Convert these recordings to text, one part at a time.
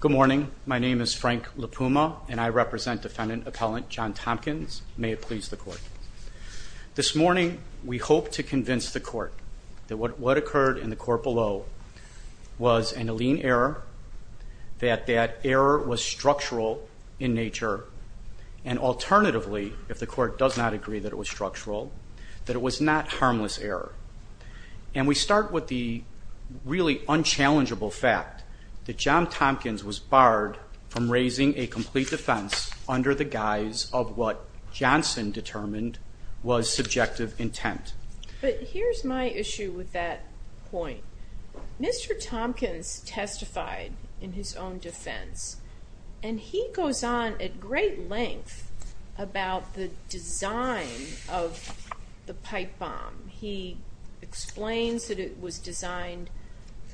Good morning. My name is Frank Lipuma, and I represent defendant appellant John Tompkins. May it please the court. This morning, we hope to convince the court that what occurred in the court below was an illean error, that that error was structural in nature, and alternatively, if the court does not agree that it was structural, that it was not harmless error. And we start with the really unchallengeable fact that John Tompkins was barred from raising a complete defense under the guise of what Johnson determined was subjective intent. But here's my issue with that point. Mr. Tompkins testified in his own defense. And he goes on at great length about the design of the pipe bomb. He explains that it was designed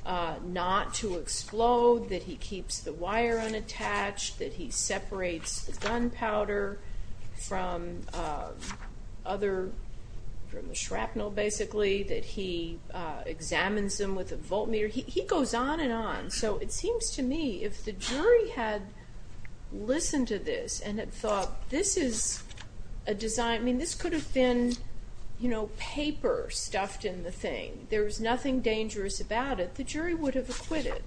not to explode, that he keeps the wire unattached, that he separates the gunpowder from the shrapnel, basically, that he examines them with a voltmeter. He goes on and on. So it seems to me, if the jury had listened to this and had thought, this is a design, I mean, this could have been, you know, paper stuffed in the thing, there was nothing dangerous about it, the jury would have acquitted.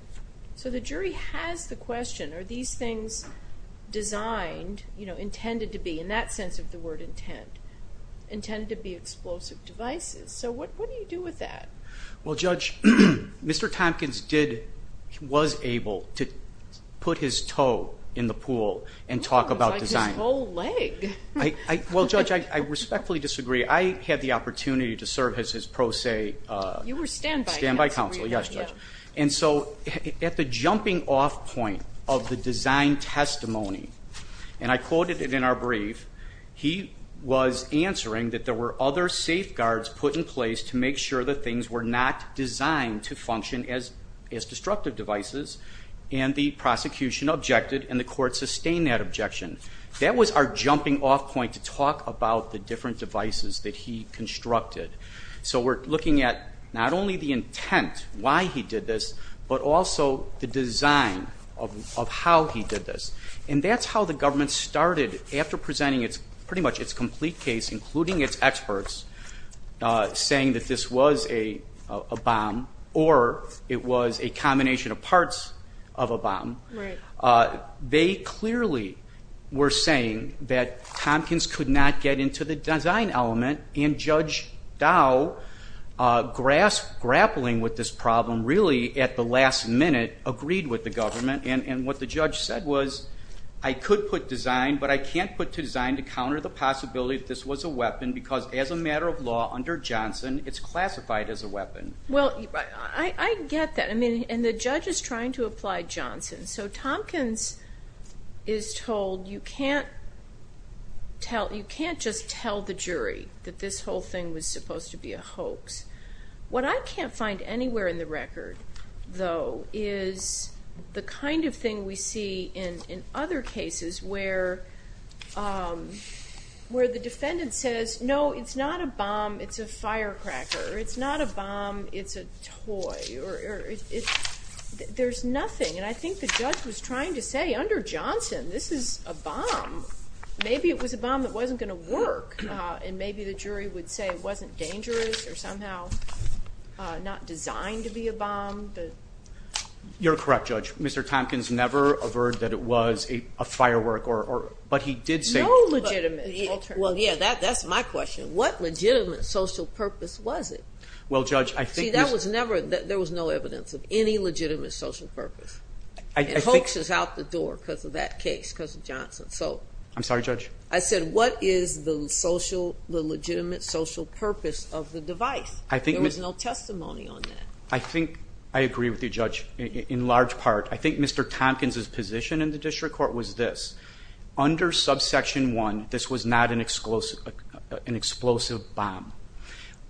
So the jury has the question, are these things designed, you know, intended to be, in that sense of the word intent, intended to be explosive devices? So what do you do with that? Well, Judge, Mr. Tompkins did, was able to put his toe in the pool and talk about design. It's like his whole leg. Well, Judge, I respectfully disagree. I had the opportunity to serve as his pro se. You were standby. Standby counsel, yes, Judge. And so at the jumping off point of the design testimony, and I quoted it in our brief, he was answering that there were other safeguards put in place to make sure that things were not designed to function as destructive devices. And the prosecution objected and the court sustained that objection. That was our jumping off point to talk about the different devices that he constructed. So we're looking at not only the intent, why he did this, but also the design of how he did this. And that's how the government started after presenting its pretty much its complete case, including its experts saying that this was a bomb or it was a combination of parts of a bomb. They clearly were saying that Tompkins could not get into the design element. And Judge Dow grasped grappling with this problem really at the last minute, agreed with the government. And what the judge said was, I could put design, but I can't put design to counter the possibility that this was a weapon because as a matter of law under Johnson, it's classified as a weapon. Well, I get that. And the judge is trying to apply Johnson. So Tompkins is told you can't just tell the jury that this whole thing was supposed to be a hoax. What I can't find anywhere in the record, though, is the kind of thing we see in other cases where the defendant says, no, it's not a bomb. It's a firecracker. It's not a bomb. It's a toy. There's nothing. And I think the judge was trying to say under Johnson, this is a bomb. Maybe it was a bomb that wasn't going to work. And maybe the jury would say it wasn't dangerous or somehow not designed to be a bomb. You're correct, Judge. Mr. Tompkins never averred that it was a firework or but he did say legitimate. Well, yeah, that that's my question. What legitimate social purpose was it? Well, Judge, I think that was never that there was no evidence of any legitimate social purpose. I think she's out the door because of that case because of Johnson. So I'm sorry, Judge. I said, what is the social, the legitimate social purpose of the device? I think there was no testimony on that. I think I agree with you, Judge. In large part, I think Mr. Tompkins's position in the district court was this under subsection one. This was not an explosive, an explosive bomb.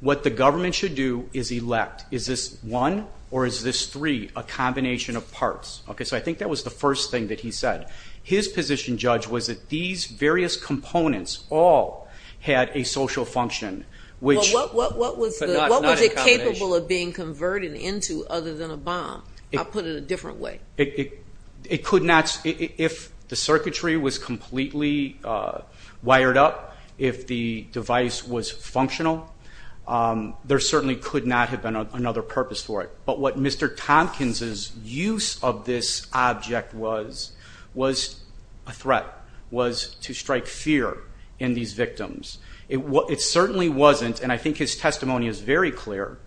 What the government should do is elect. Is this one or is this three a combination of parts? OK, so I think that was the first thing that he said. His position, Judge, was that these various components all had a social function, which. What was it capable of being converted into other than a bomb? I'll put it a different way. It could not. If the circuitry was completely wired up. If the device was functional, there certainly could not have been another purpose for it. But what Mr. Tompkins's use of this object was, was a threat, was to strike fear in these victims. It certainly wasn't. And I think his testimony is very clear.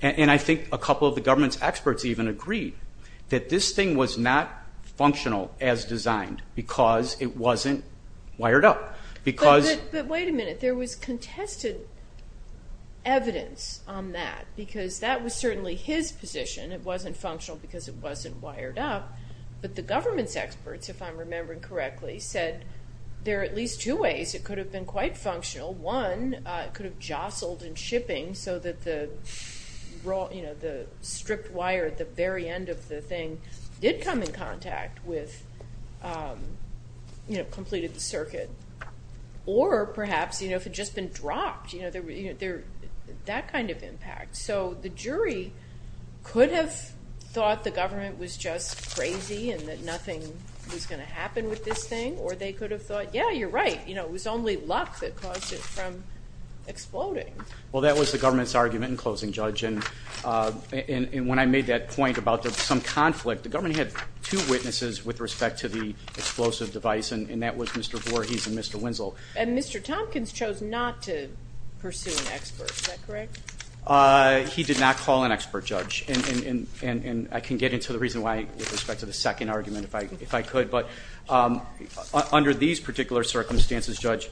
And I think a couple of the government's experts even agreed that this thing was not functional as designed because it wasn't wired up. But wait a minute. There was contested evidence on that because that was certainly his position. It wasn't functional because it wasn't wired up. But the government's experts, if I'm remembering correctly, said there are at least two ways it could have been quite functional. One, it could have jostled in shipping so that the stripped wire at the very end of the thing did come in contact with, completed the circuit. Or perhaps if it had just been dropped, that kind of impact. So the jury could have thought the government was just crazy and that nothing was going to happen with this thing. Or they could have thought, yeah, you're right. It was only luck that caused it from exploding. Well, that was the government's argument in closing, Judge. And when I made that point about some conflict, the government had two witnesses with respect to the explosive device. And that was Mr. Voorhees and Mr. Wenzel. And Mr. Tompkins chose not to pursue an expert. Is that correct? He did not call an expert, Judge. And I can get into the reason why with respect to the second argument if I could. But under these particular circumstances, Judge,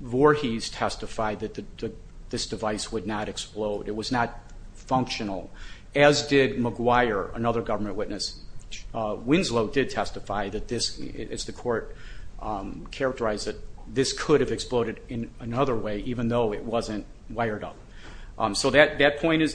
Voorhees testified that this device would not explode. It was not functional, as did McGuire, another government witness. Wenzel did testify that this, as the court characterized it, this could have exploded in another way, even though it wasn't wired up. So that point is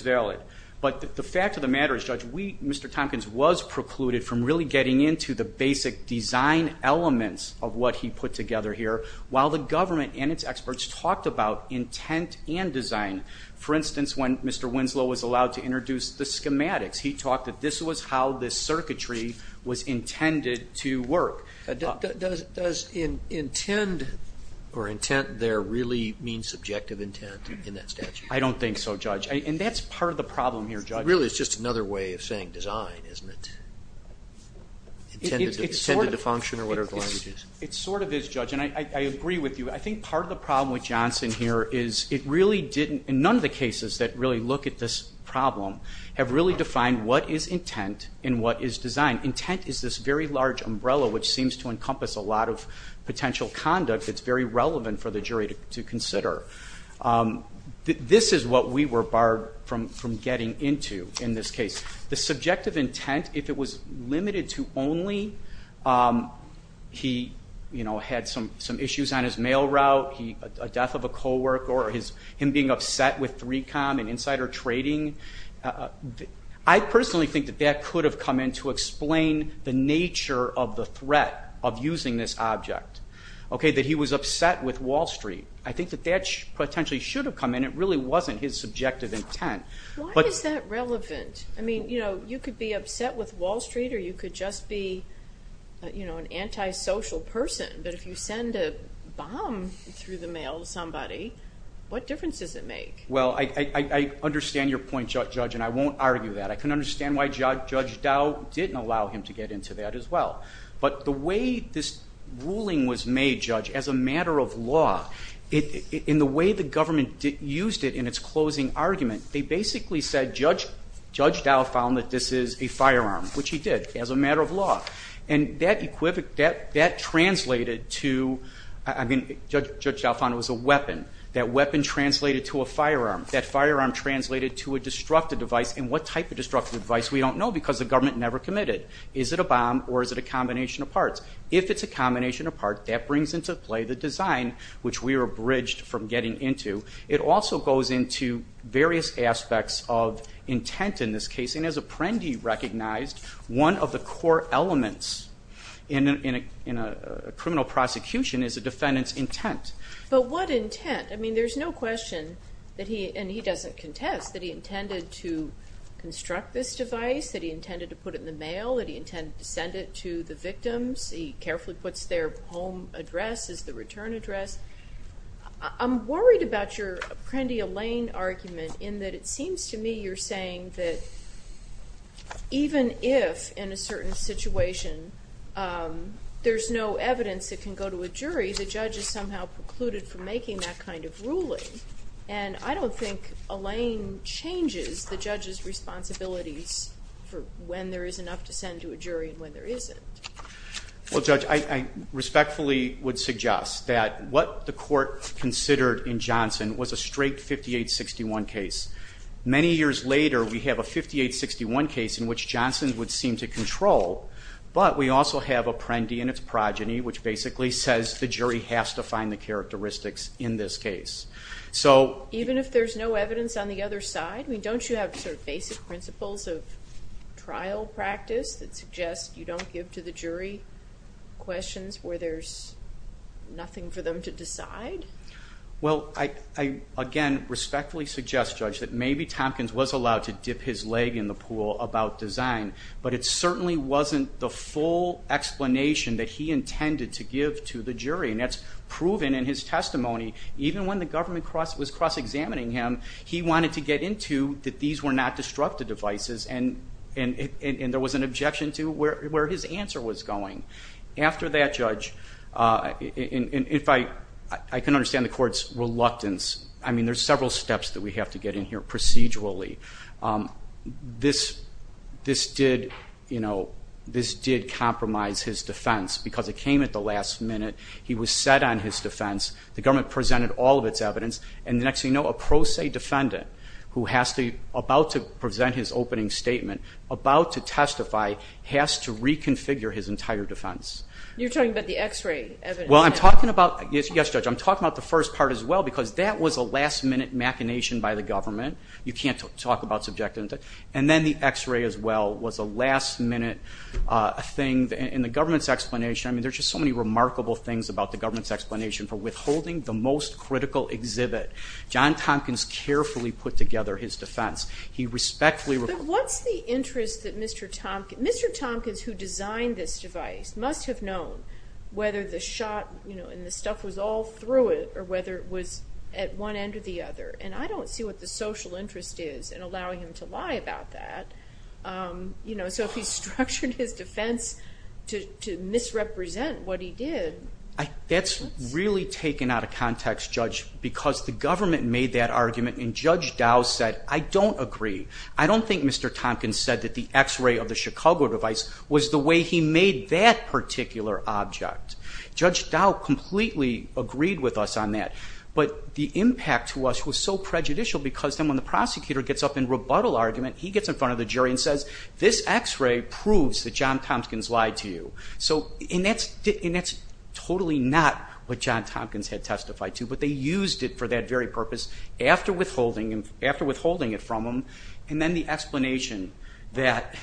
valid. But the fact of the matter is, Judge, Mr. Tompkins was precluded from really getting into the basic design elements of what he put together here, while the government and its experts talked about intent and design. For instance, when Mr. Wenzel was allowed to introduce the schematics, he talked that this was how this circuitry was intended to work. Does intent there really mean subjective intent in that statute? I don't think so, Judge. And that's part of the problem here, Judge. Really, it's just another way of saying design, isn't it? Intended to function or whatever the language is. It sort of is, Judge. And I agree with you. I think part of the problem with Johnson here is it really didn't, in none of the cases that really look at this problem, have really defined what is intent and what is design. Intent is this very large umbrella which seems to encompass a lot of potential conduct that's very relevant for the jury to consider. This is what we were barred from getting into in this case. The subjective intent, if it was limited to only he had some issues on his mail route, a death of a co-worker, or him being upset with 3Com and insider trading, I personally think that that could have come in to explain the nature of the threat of using this object. That he was upset with Wall Street. I think that that potentially should have come in. It really wasn't his subjective intent. Why is that relevant? I mean, you could be upset with Wall Street or you could just be an antisocial person. But if you send a bomb through the mail to somebody, what difference does it make? Well, I understand your point, Judge, and I won't argue that. I can understand why Judge Dow didn't allow him to get into that as well. But the way this ruling was made, Judge, as a matter of law, in the way the government used it in its closing argument, they basically said Judge Dow found that this is a firearm, which he did, as a matter of law. And that translated to, I mean, Judge Dow found it was a weapon. That weapon translated to a firearm. That firearm translated to a destructive device. And what type of destructive device, we don't know because the government never committed. Is it a bomb or is it a combination of parts? If it's a combination of parts, that brings into play the design, which we are abridged from getting into. It also goes into various aspects of intent in this case. And as Apprendi recognized, one of the core elements in a criminal prosecution is a defendant's intent. But what intent? I mean, there's no question that he, and he doesn't contest, that he intended to construct this device, that he intended to put it in the mail, that he intended to send it to the victims. He carefully puts their home address as the return address. I'm worried about your Apprendi-Allain argument in that it seems to me you're saying that even if, in a certain situation, there's no evidence that can go to a jury, the judge is somehow precluded from making that kind of ruling. And I don't think Allain changes the judge's responsibilities for when there is enough to send to a jury and when there isn't. Well, Judge, I respectfully would suggest that what the court considered in Johnson was a straight 5861 case. Many years later, we have a 5861 case in which Johnson would seem to control, but we also have Apprendi and its progeny, which basically says the jury has to find the characteristics in this case. So... Even if there's no evidence on the other side? I mean, don't you have sort of basic principles of trial practice that suggest you don't give to the jury questions where there's nothing for them to decide? Well, I again respectfully suggest, Judge, that maybe Tompkins was allowed to dip his leg in the pool about design, but it certainly wasn't the full explanation that he intended to give to the jury, and that's proven in his testimony. Even when the government was cross-examining him, he wanted to get into that these were not disruptive devices, and there was an objection to where his answer was going. After that, Judge, if I can understand the court's reluctance, I mean, there's several steps that we have to get in here procedurally. This did compromise his defense because it came at the last minute. He was set on his defense. The government presented all of its evidence, and the next thing you know, a pro se defendant who has to be about to present his opening statement, about to testify, has to reconfigure his entire defense. You're talking about the x-ray evidence? Well, I'm talking about... Yes, Judge, I'm talking about the first part as well because that was a last-minute machination by the government. You can't talk about subjectivity. And then the x-ray as well was a last-minute thing. In the government's explanation, I mean, there's just so many remarkable things about the government's explanation for withholding the most critical exhibit. John Tompkins carefully put together his defense. He respectfully... But what's the interest that Mr. Tompkins... Mr. Tompkins, who designed this device, must have known whether the shot and the stuff was all through it or whether it was at one end or the other, and I don't see what the social interest is in allowing him to lie about that. So if he's structured his defense to misrepresent what he did... That's really taken out of context, Judge, because the government made that argument, and Judge Dow said, I don't agree. I don't think Mr. Tompkins said that the x-ray of the Chicago device was the way he made that particular object. Judge Dow completely agreed with us on that, but the impact to us was so prejudicial because then when the prosecutor gets up in rebuttal argument, he gets in front of the jury and says, this x-ray proves that John Tompkins lied to you. And that's totally not what John Tompkins had testified to, but they used it for that very purpose after withholding it from him. And then the explanation that,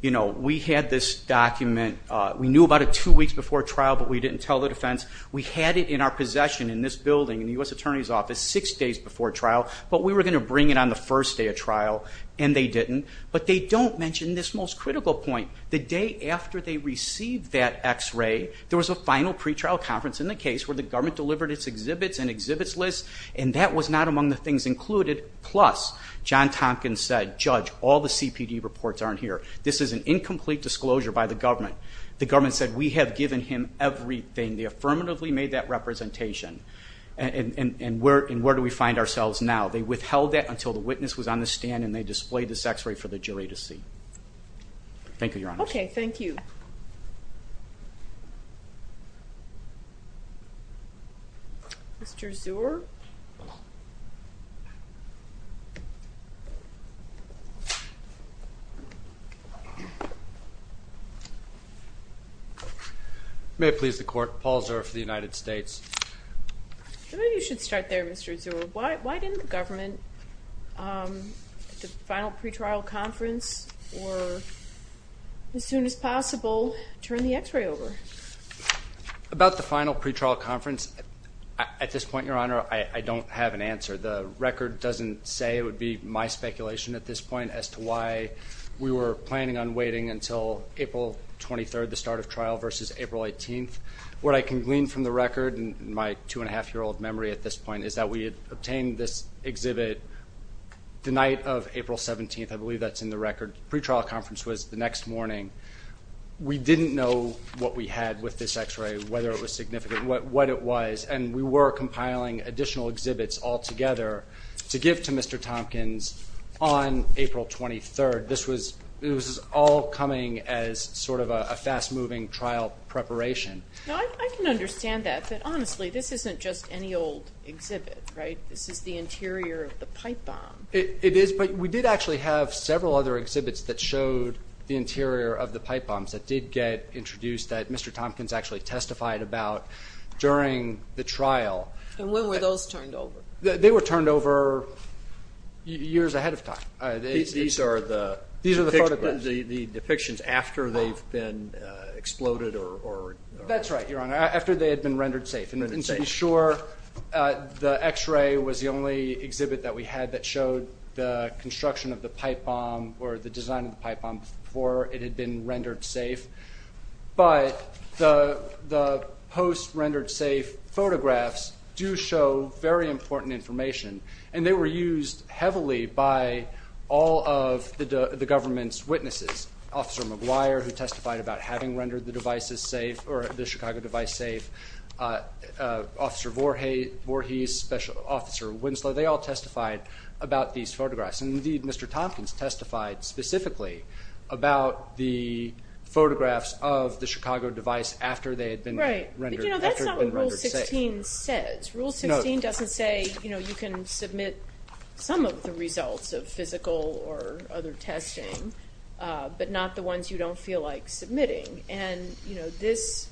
you know, we had this document, we knew about it two weeks before trial, but we didn't tell the defense. We had it in our possession in this building in the U.S. Attorney's Office six days before trial, but we were going to bring it on the first day of trial, and they didn't. But they don't mention this most critical point. The day after they received that x-ray, there was a final pretrial conference in the case where the government delivered its exhibits and exhibits list, and that was not among the things included. Plus, John Tompkins said, Judge, all the CPD reports aren't here. This is an incomplete disclosure by the government. The government said, we have given him everything. They affirmatively made that representation. And where do we find ourselves now? They withheld that until the witness was on the stand and they displayed the x-ray for the jury to see. Thank you, Your Honor. Okay, thank you. Mr. Zuer? May it please the Court. Paul Zuer for the United States. Maybe you should start there, Mr. Zuer. Why didn't the government at the final pretrial conference or as soon as possible turn the x-ray over? About the final pretrial conference, at this point, Your Honor, I don't have any information. I don't have an answer. The record doesn't say it would be my speculation at this point as to why we were planning on waiting until April 23rd, the start of trial, versus April 18th. What I can glean from the record and my two-and-a-half-year-old memory at this point is that we had obtained this exhibit the night of April 17th. I believe that's in the record. The pretrial conference was the next morning. We didn't know what we had with this x-ray, whether it was significant, what it was. And we were compiling additional exhibits altogether to give to Mr. Tompkins on April 23rd. This was all coming as sort of a fast-moving trial preparation. I can understand that, but honestly this isn't just any old exhibit, right? This is the interior of the pipe bomb. It is, but we did actually have several other exhibits that showed the interior of the pipe bombs that did get introduced that Mr. Tompkins actually testified about during the trial. And when were those turned over? They were turned over years ahead of time. These are the depictions after they've been exploded or...? That's right, Your Honor, after they had been rendered safe. And to be sure, the x-ray was the only exhibit that we had that showed the construction of the pipe bomb or the design of the pipe bomb before it had been rendered safe. But the post-rendered safe photographs do show very important information, and they were used heavily by all of the government's witnesses. Officer McGuire, who testified about having rendered the devices safe, or the Chicago device safe, Officer Voorhees, Special Officer Winslow, they all testified about these photographs. And indeed, Mr. Tompkins testified specifically about the photographs of the Chicago device after they had been rendered safe. But that's not what Rule 16 says. Rule 16 doesn't say you can submit some of the results of physical or other testing, but not the ones you don't feel like submitting. And this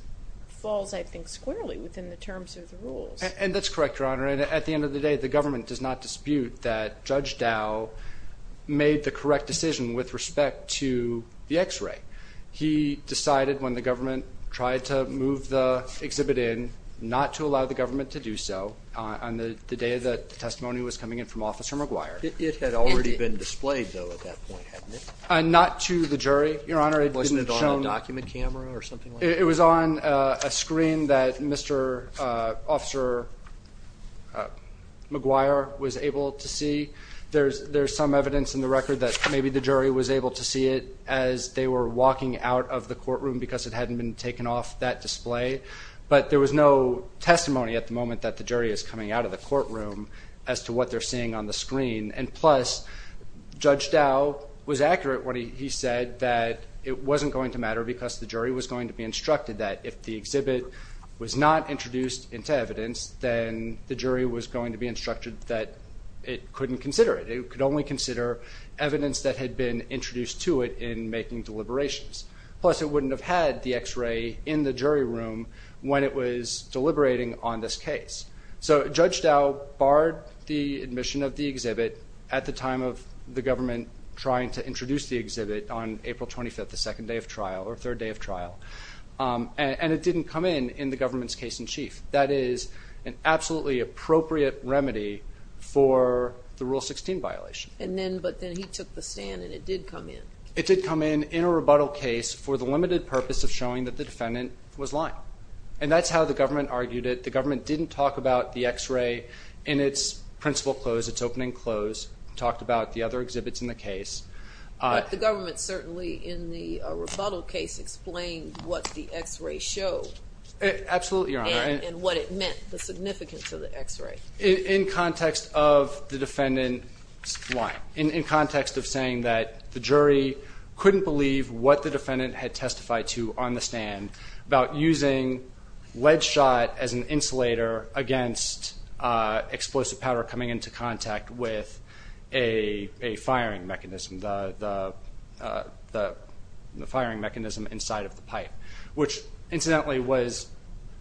falls, I think, squarely within the terms of the rules. And that's correct, Your Honor. At the end of the day, the government does not dispute that Judge Dow made the correct decision with respect to the X-ray. He decided when the government tried to move the exhibit in not to allow the government to do so on the day that the testimony was coming in from Officer McGuire. It had already been displayed, though, at that point, hadn't it? Not to the jury, Your Honor. Wasn't it on a document camera or something like that? It was on a screen that Mr. Officer McGuire was able to see. There's some evidence in the record that maybe the jury was able to see it as they were walking out of the courtroom because it hadn't been taken off that display. But there was no testimony at the moment that the jury is coming out of the courtroom as to what they're seeing on the screen. And plus, Judge Dow was accurate when he said that it wasn't going to matter because the jury was going to be instructed that if the exhibit was not introduced into evidence, then the jury was going to be instructed that it couldn't consider it. It could only consider evidence that had been introduced to it in making deliberations. Plus, it wouldn't have had the X-ray in the jury room when it was deliberating on this case. So Judge Dow barred the admission of the exhibit at the time of the government trying to introduce the exhibit on April 25th, the second day of trial, or third day of trial. And it didn't come in in the government's case in chief. That is an absolutely appropriate remedy for the Rule 16 violation. But then he took the stand and it did come in. It did come in in a rebuttal case for the limited purpose of showing that the defendant was lying. And that's how the government argued it. The government didn't talk about the X-ray in its principal close, its opening close. It talked about the other exhibits in the case. But the government certainly, in the rebuttal case, explained what the X-ray showed. Absolutely, Your Honor. And what it meant, the significance of the X-ray. In context of the defendant's lying. In context of saying that the jury couldn't believe what the defendant had testified to on the stand about using lead shot as an insulator against explosive powder coming into contact with a firing mechanism, the firing mechanism inside of the pipe. Which incidentally was,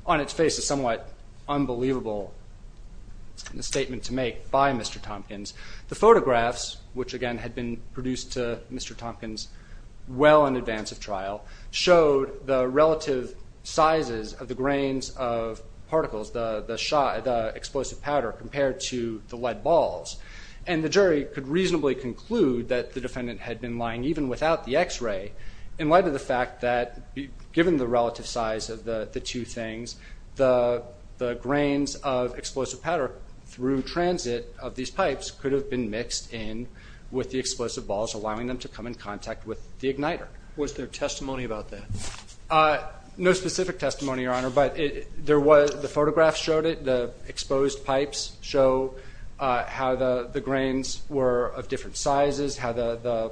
on its face, a somewhat unbelievable statement to make by Mr. Tompkins. The photographs, which again had been produced to Mr. Tompkins well in advance of trial, showed the relative sizes of the grains of particles, the explosive powder compared to the lead balls. And the jury could reasonably conclude that the defendant had been lying even without the X-ray in light of the fact that, given the relative size of the two things, the grains of explosive powder through transit of these pipes could have been mixed in with the explosive balls, allowing them to come in contact with the igniter. Was there testimony about that? No specific testimony, Your Honor, but the photographs showed it. The exposed pipes show how the grains were of different sizes, how the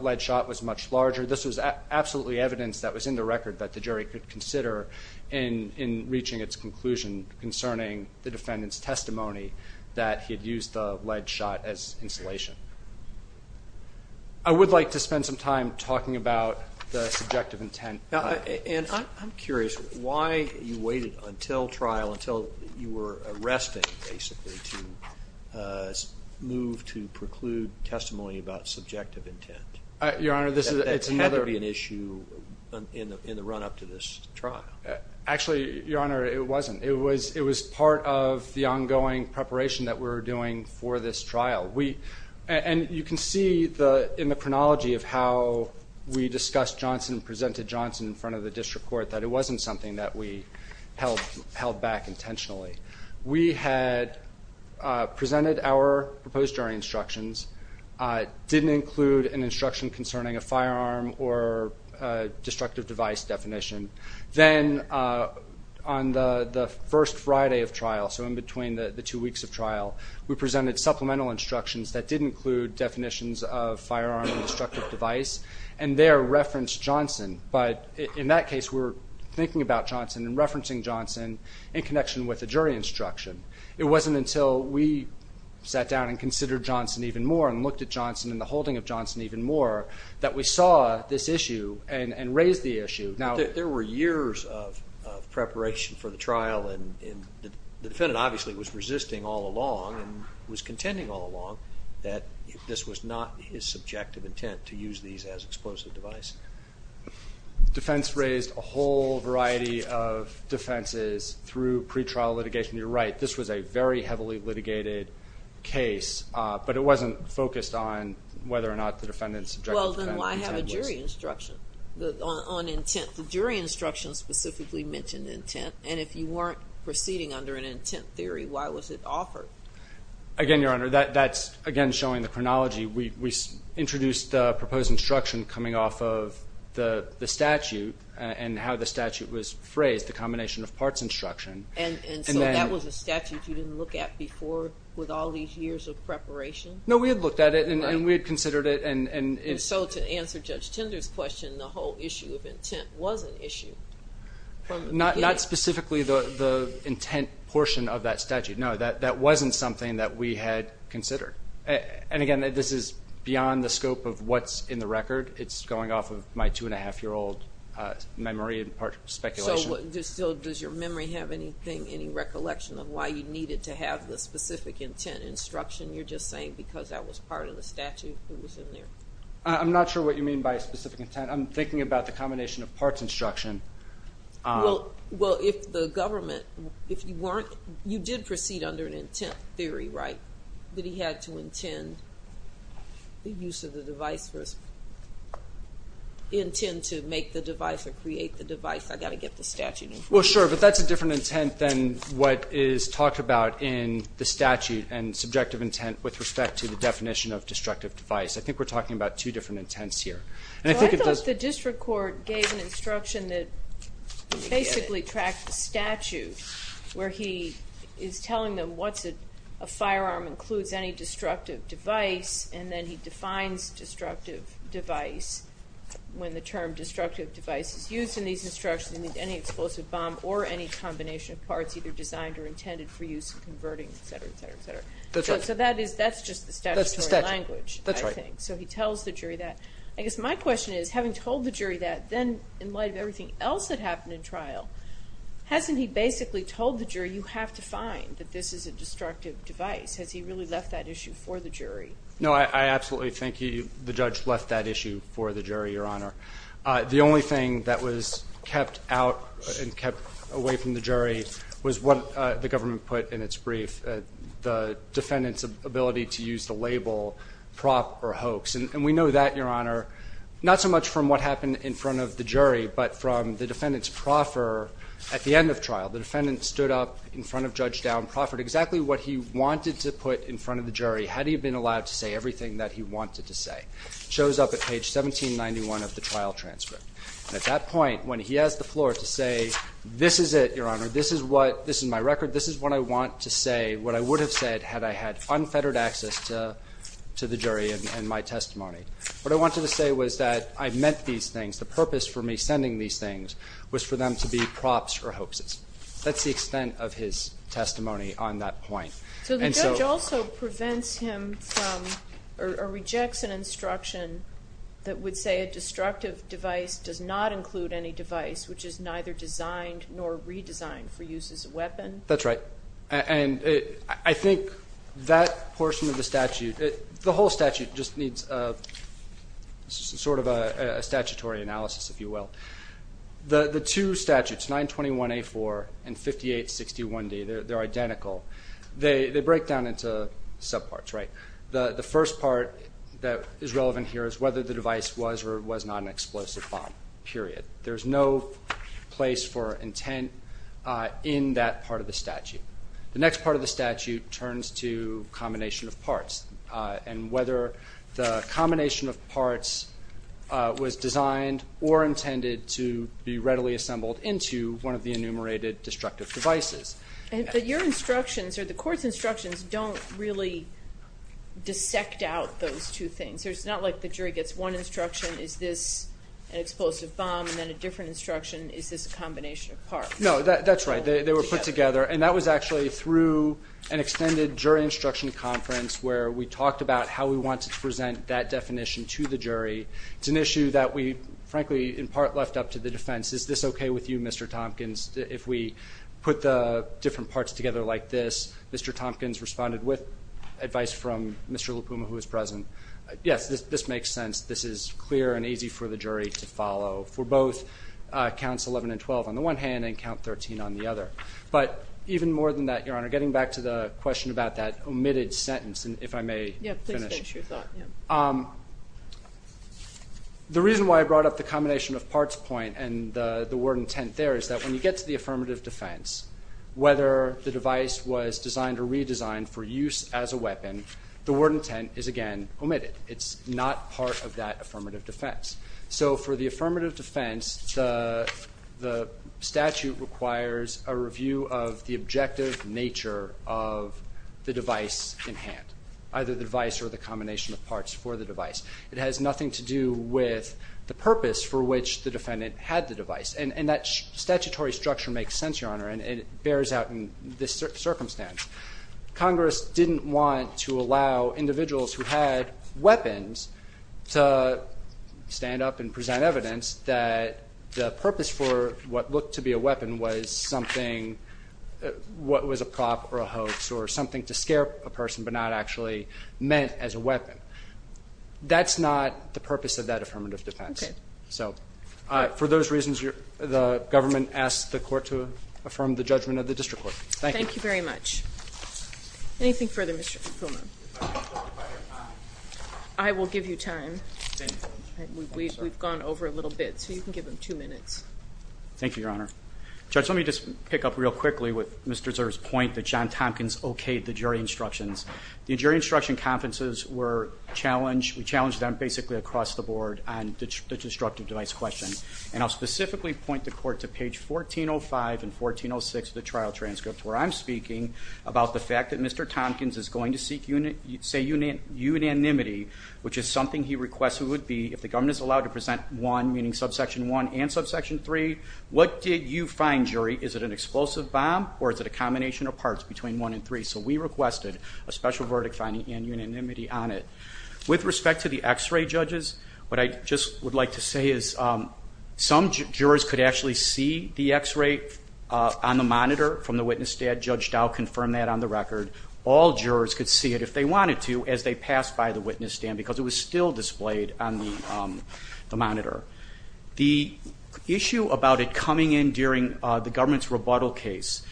lead shot was much larger. This was absolutely evidence that was in the record that the jury could consider in reaching its conclusion concerning the defendant's testimony that he had used the lead shot as insulation. I would like to spend some time talking about the subjective intent. And I'm curious why you waited until trial, until you were arrested, basically, to move to preclude testimony about subjective intent. That had to be an issue in the run-up to this trial. Actually, Your Honor, it wasn't. It was part of the ongoing preparation that we were doing for this trial. And you can see in the chronology of how we discussed Johnson and presented Johnson in front of the district court that it wasn't something that we held back intentionally. We had presented our proposed jury instructions, didn't include an instruction concerning a firearm or destructive device definition. Then, on the first Friday of trial, so in between the two weeks of trial, we presented supplemental instructions that did include definitions of firearm and destructive device, and there referenced Johnson. But in that case, we were thinking about Johnson and referencing Johnson in connection with the jury instruction. It wasn't until we sat down and considered Johnson even more and looked at Johnson and the holding of Johnson even more that we saw this issue and raised the issue. There were years of preparation for the trial, and the defendant obviously was resisting all along and was contending all along that this was not his subjective intent to use these as explosive device. Defense raised a whole variety of defenses through pretrial litigation. You're right. This was a very heavily litigated case, but it wasn't focused on whether or not the defendant's subjective intent was. Well, then why have a jury instruction on intent? The jury instruction specifically mentioned intent, and if you weren't proceeding under an intent theory, why was it offered? Again, Your Honor, that's, again, showing the chronology. We introduced the proposed instruction coming off of the statute and how the statute was phrased, the combination of parts instruction. And so that was a statute you didn't look at before with all these years of preparation? No, we had looked at it and we had considered it. And so to answer Judge Tinder's question, the whole issue of intent was an issue from the beginning. Not specifically the intent portion of that statute. No, that wasn't something that we had considered. And, again, this is beyond the scope of what's in the record. It's going off of my two-and-a-half-year-old memory and speculation. So does your memory have any recollection of why you needed to have the specific intent instruction you're just saying because that was part of the statute that was in there? I'm not sure what you mean by specific intent. I'm thinking about the combination of parts instruction. Well, if the government, if you weren't, you did proceed under an intent theory, right, that he had to intend the use of the device or intend to make the device or create the device. I've got to get the statute in front of me. Well, sure, but that's a different intent than what is talked about in the statute and subjective intent with respect to the definition of destructive device. I think we're talking about two different intents here. I thought the district court gave an instruction that basically tracked the statute where he is telling them what a firearm includes, any destructive device, and then he defines destructive device when the term destructive device is used in these instructions and any explosive bomb or any combination of parts either designed or intended for use in converting, etc., etc., etc. That's right. So that's just the statutory language, I think. That's the statute. That's right. So he tells the jury that. then in light of everything else that happened in trial, hasn't he basically told the jury, you have to find that this is a destructive device? Has he really left that issue for the jury? No, I absolutely think the judge left that issue for the jury, Your Honor. The only thing that was kept out and kept away from the jury was what the government put in its brief, the defendant's ability to use the label prop or hoax. And we know that, Your Honor, not so much from what happened in front of the jury, but from the defendant's proffer at the end of trial. The defendant stood up in front of Judge Dowd and proffered exactly what he wanted to put in front of the jury had he been allowed to say everything that he wanted to say. It shows up at page 1791 of the trial transcript. And at that point, when he has the floor to say, this is it, Your Honor, this is what, this is my record, this is what I want to say, what I would have said had I had unfettered access to the jury and my testimony. What I wanted to say was that I meant these things. The purpose for me sending these things was for them to be props or hoaxes. That's the extent of his testimony on that point. So the judge also prevents him from or rejects an instruction that would say a destructive device does not include any device which is neither designed nor redesigned for use as a weapon? That's right. And I think that portion of the statute, the whole statute just needs sort of a statutory analysis, if you will. The two statutes, 921A4 and 5861D, they're identical. They break down into subparts, right? The first part that is relevant here is whether the device was or was not an explosive bomb, period. There's no place for intent in that part of the statute. The next part of the statute turns to combination of parts and whether the combination of parts was designed or intended to be readily assembled into one of the enumerated destructive devices. But your instructions or the court's instructions don't really dissect out those two things. It's not like the jury gets one instruction, is this an explosive bomb, and then a different instruction, is this a combination of parts. No, that's right. They were put together, and that was actually through an extended jury instruction conference where we talked about how we wanted to present that definition to the jury. It's an issue that we, frankly, in part left up to the defense. Is this okay with you, Mr. Tompkins, if we put the different parts together like this? Mr. Tompkins responded with advice from Mr. Lupuma, who was present. Yes, this makes sense. This is clear and easy for the jury to follow for both counts 11 and 12 on the one hand and count 13 on the other. But even more than that, Your Honor, getting back to the question about that omitted sentence, if I may finish. Yes, please finish your thought. The reason why I brought up the combination of parts point and the word intent there is that when you get to the affirmative defense, whether the device was designed or redesigned for use as a weapon, the word intent is, again, omitted. It's not part of that affirmative defense. So for the affirmative defense, the statute requires a review of the objective nature of the device in hand, either the device or the combination of parts for the device. It has nothing to do with the purpose for which the defendant had the device. And that statutory structure makes sense, Your Honor, and it bears out in this circumstance. Congress didn't want to allow individuals who had weapons to stand up and present evidence that the purpose for what looked to be a weapon was something what was a prop or a hoax or something to scare a person but not actually meant as a weapon. That's not the purpose of that affirmative defense. Okay. So for those reasons, the government asks the court to affirm the judgment of the district court. Thank you. Thank you very much. Anything further, Mr. Fulman? I will give you time. We've gone over a little bit, so you can give him two minutes. Thank you, Your Honor. Judge, let me just pick up real quickly with Mr. Zurs's point that John Tompkins okayed the jury instructions. The jury instruction conferences were challenged. We challenged them basically across the board on the destructive device question. And I'll specifically point the court to page 1405 and 1406 of the trial transcript where I'm speaking about the fact that Mr. Tompkins is going to seek, say, unanimity, which is something he requests it would be if the government is allowed to present one, meaning subsection one and subsection three. What did you find, jury? Is it an explosive bomb or is it a combination of parts between one and three? So we requested a special verdict finding and unanimity on it. With respect to the X-ray judges, what I just would like to say is some jurors could actually see the X-ray on the monitor from the witness stand. Judge Dow confirmed that on the record. All jurors could see it if they wanted to as they passed by the witness stand because it was still displayed on the monitor. The issue about it coming in during the government's rebuttal case,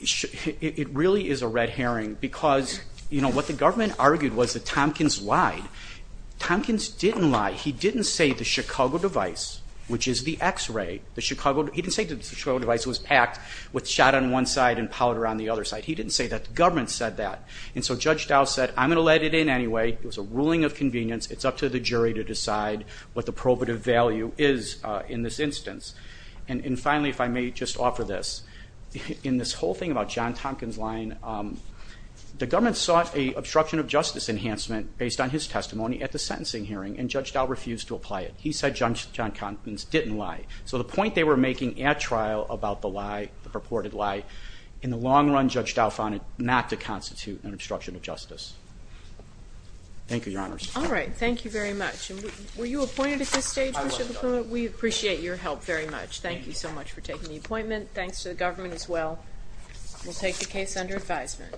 it really is a red herring because what the government argued was that Tompkins lied. Tompkins didn't lie. He didn't say the Chicago device, which is the X-ray, he didn't say the Chicago device was packed with shot on one side and powder on the other side. He didn't say that. The government said that. And so Judge Dow said, I'm going to let it in anyway. It was a ruling of convenience. It's up to the jury to decide what the probative value is in this instance. And finally, if I may just offer this, in this whole thing about John Tompkins' lie, the government sought an obstruction of justice enhancement based on his testimony at the sentencing hearing and Judge Dow refused to apply it. He said John Tompkins didn't lie. So the point they were making at trial about the lie, the purported lie, in the long run Judge Dow found it not to constitute an obstruction of justice. Thank you, Your Honors. All right. Thank you very much. And were you appointed at this stage, Mr. LaPluma? We appreciate your help very much. Thank you so much for taking the appointment. Thanks to the government as well. We'll take the case under advisement.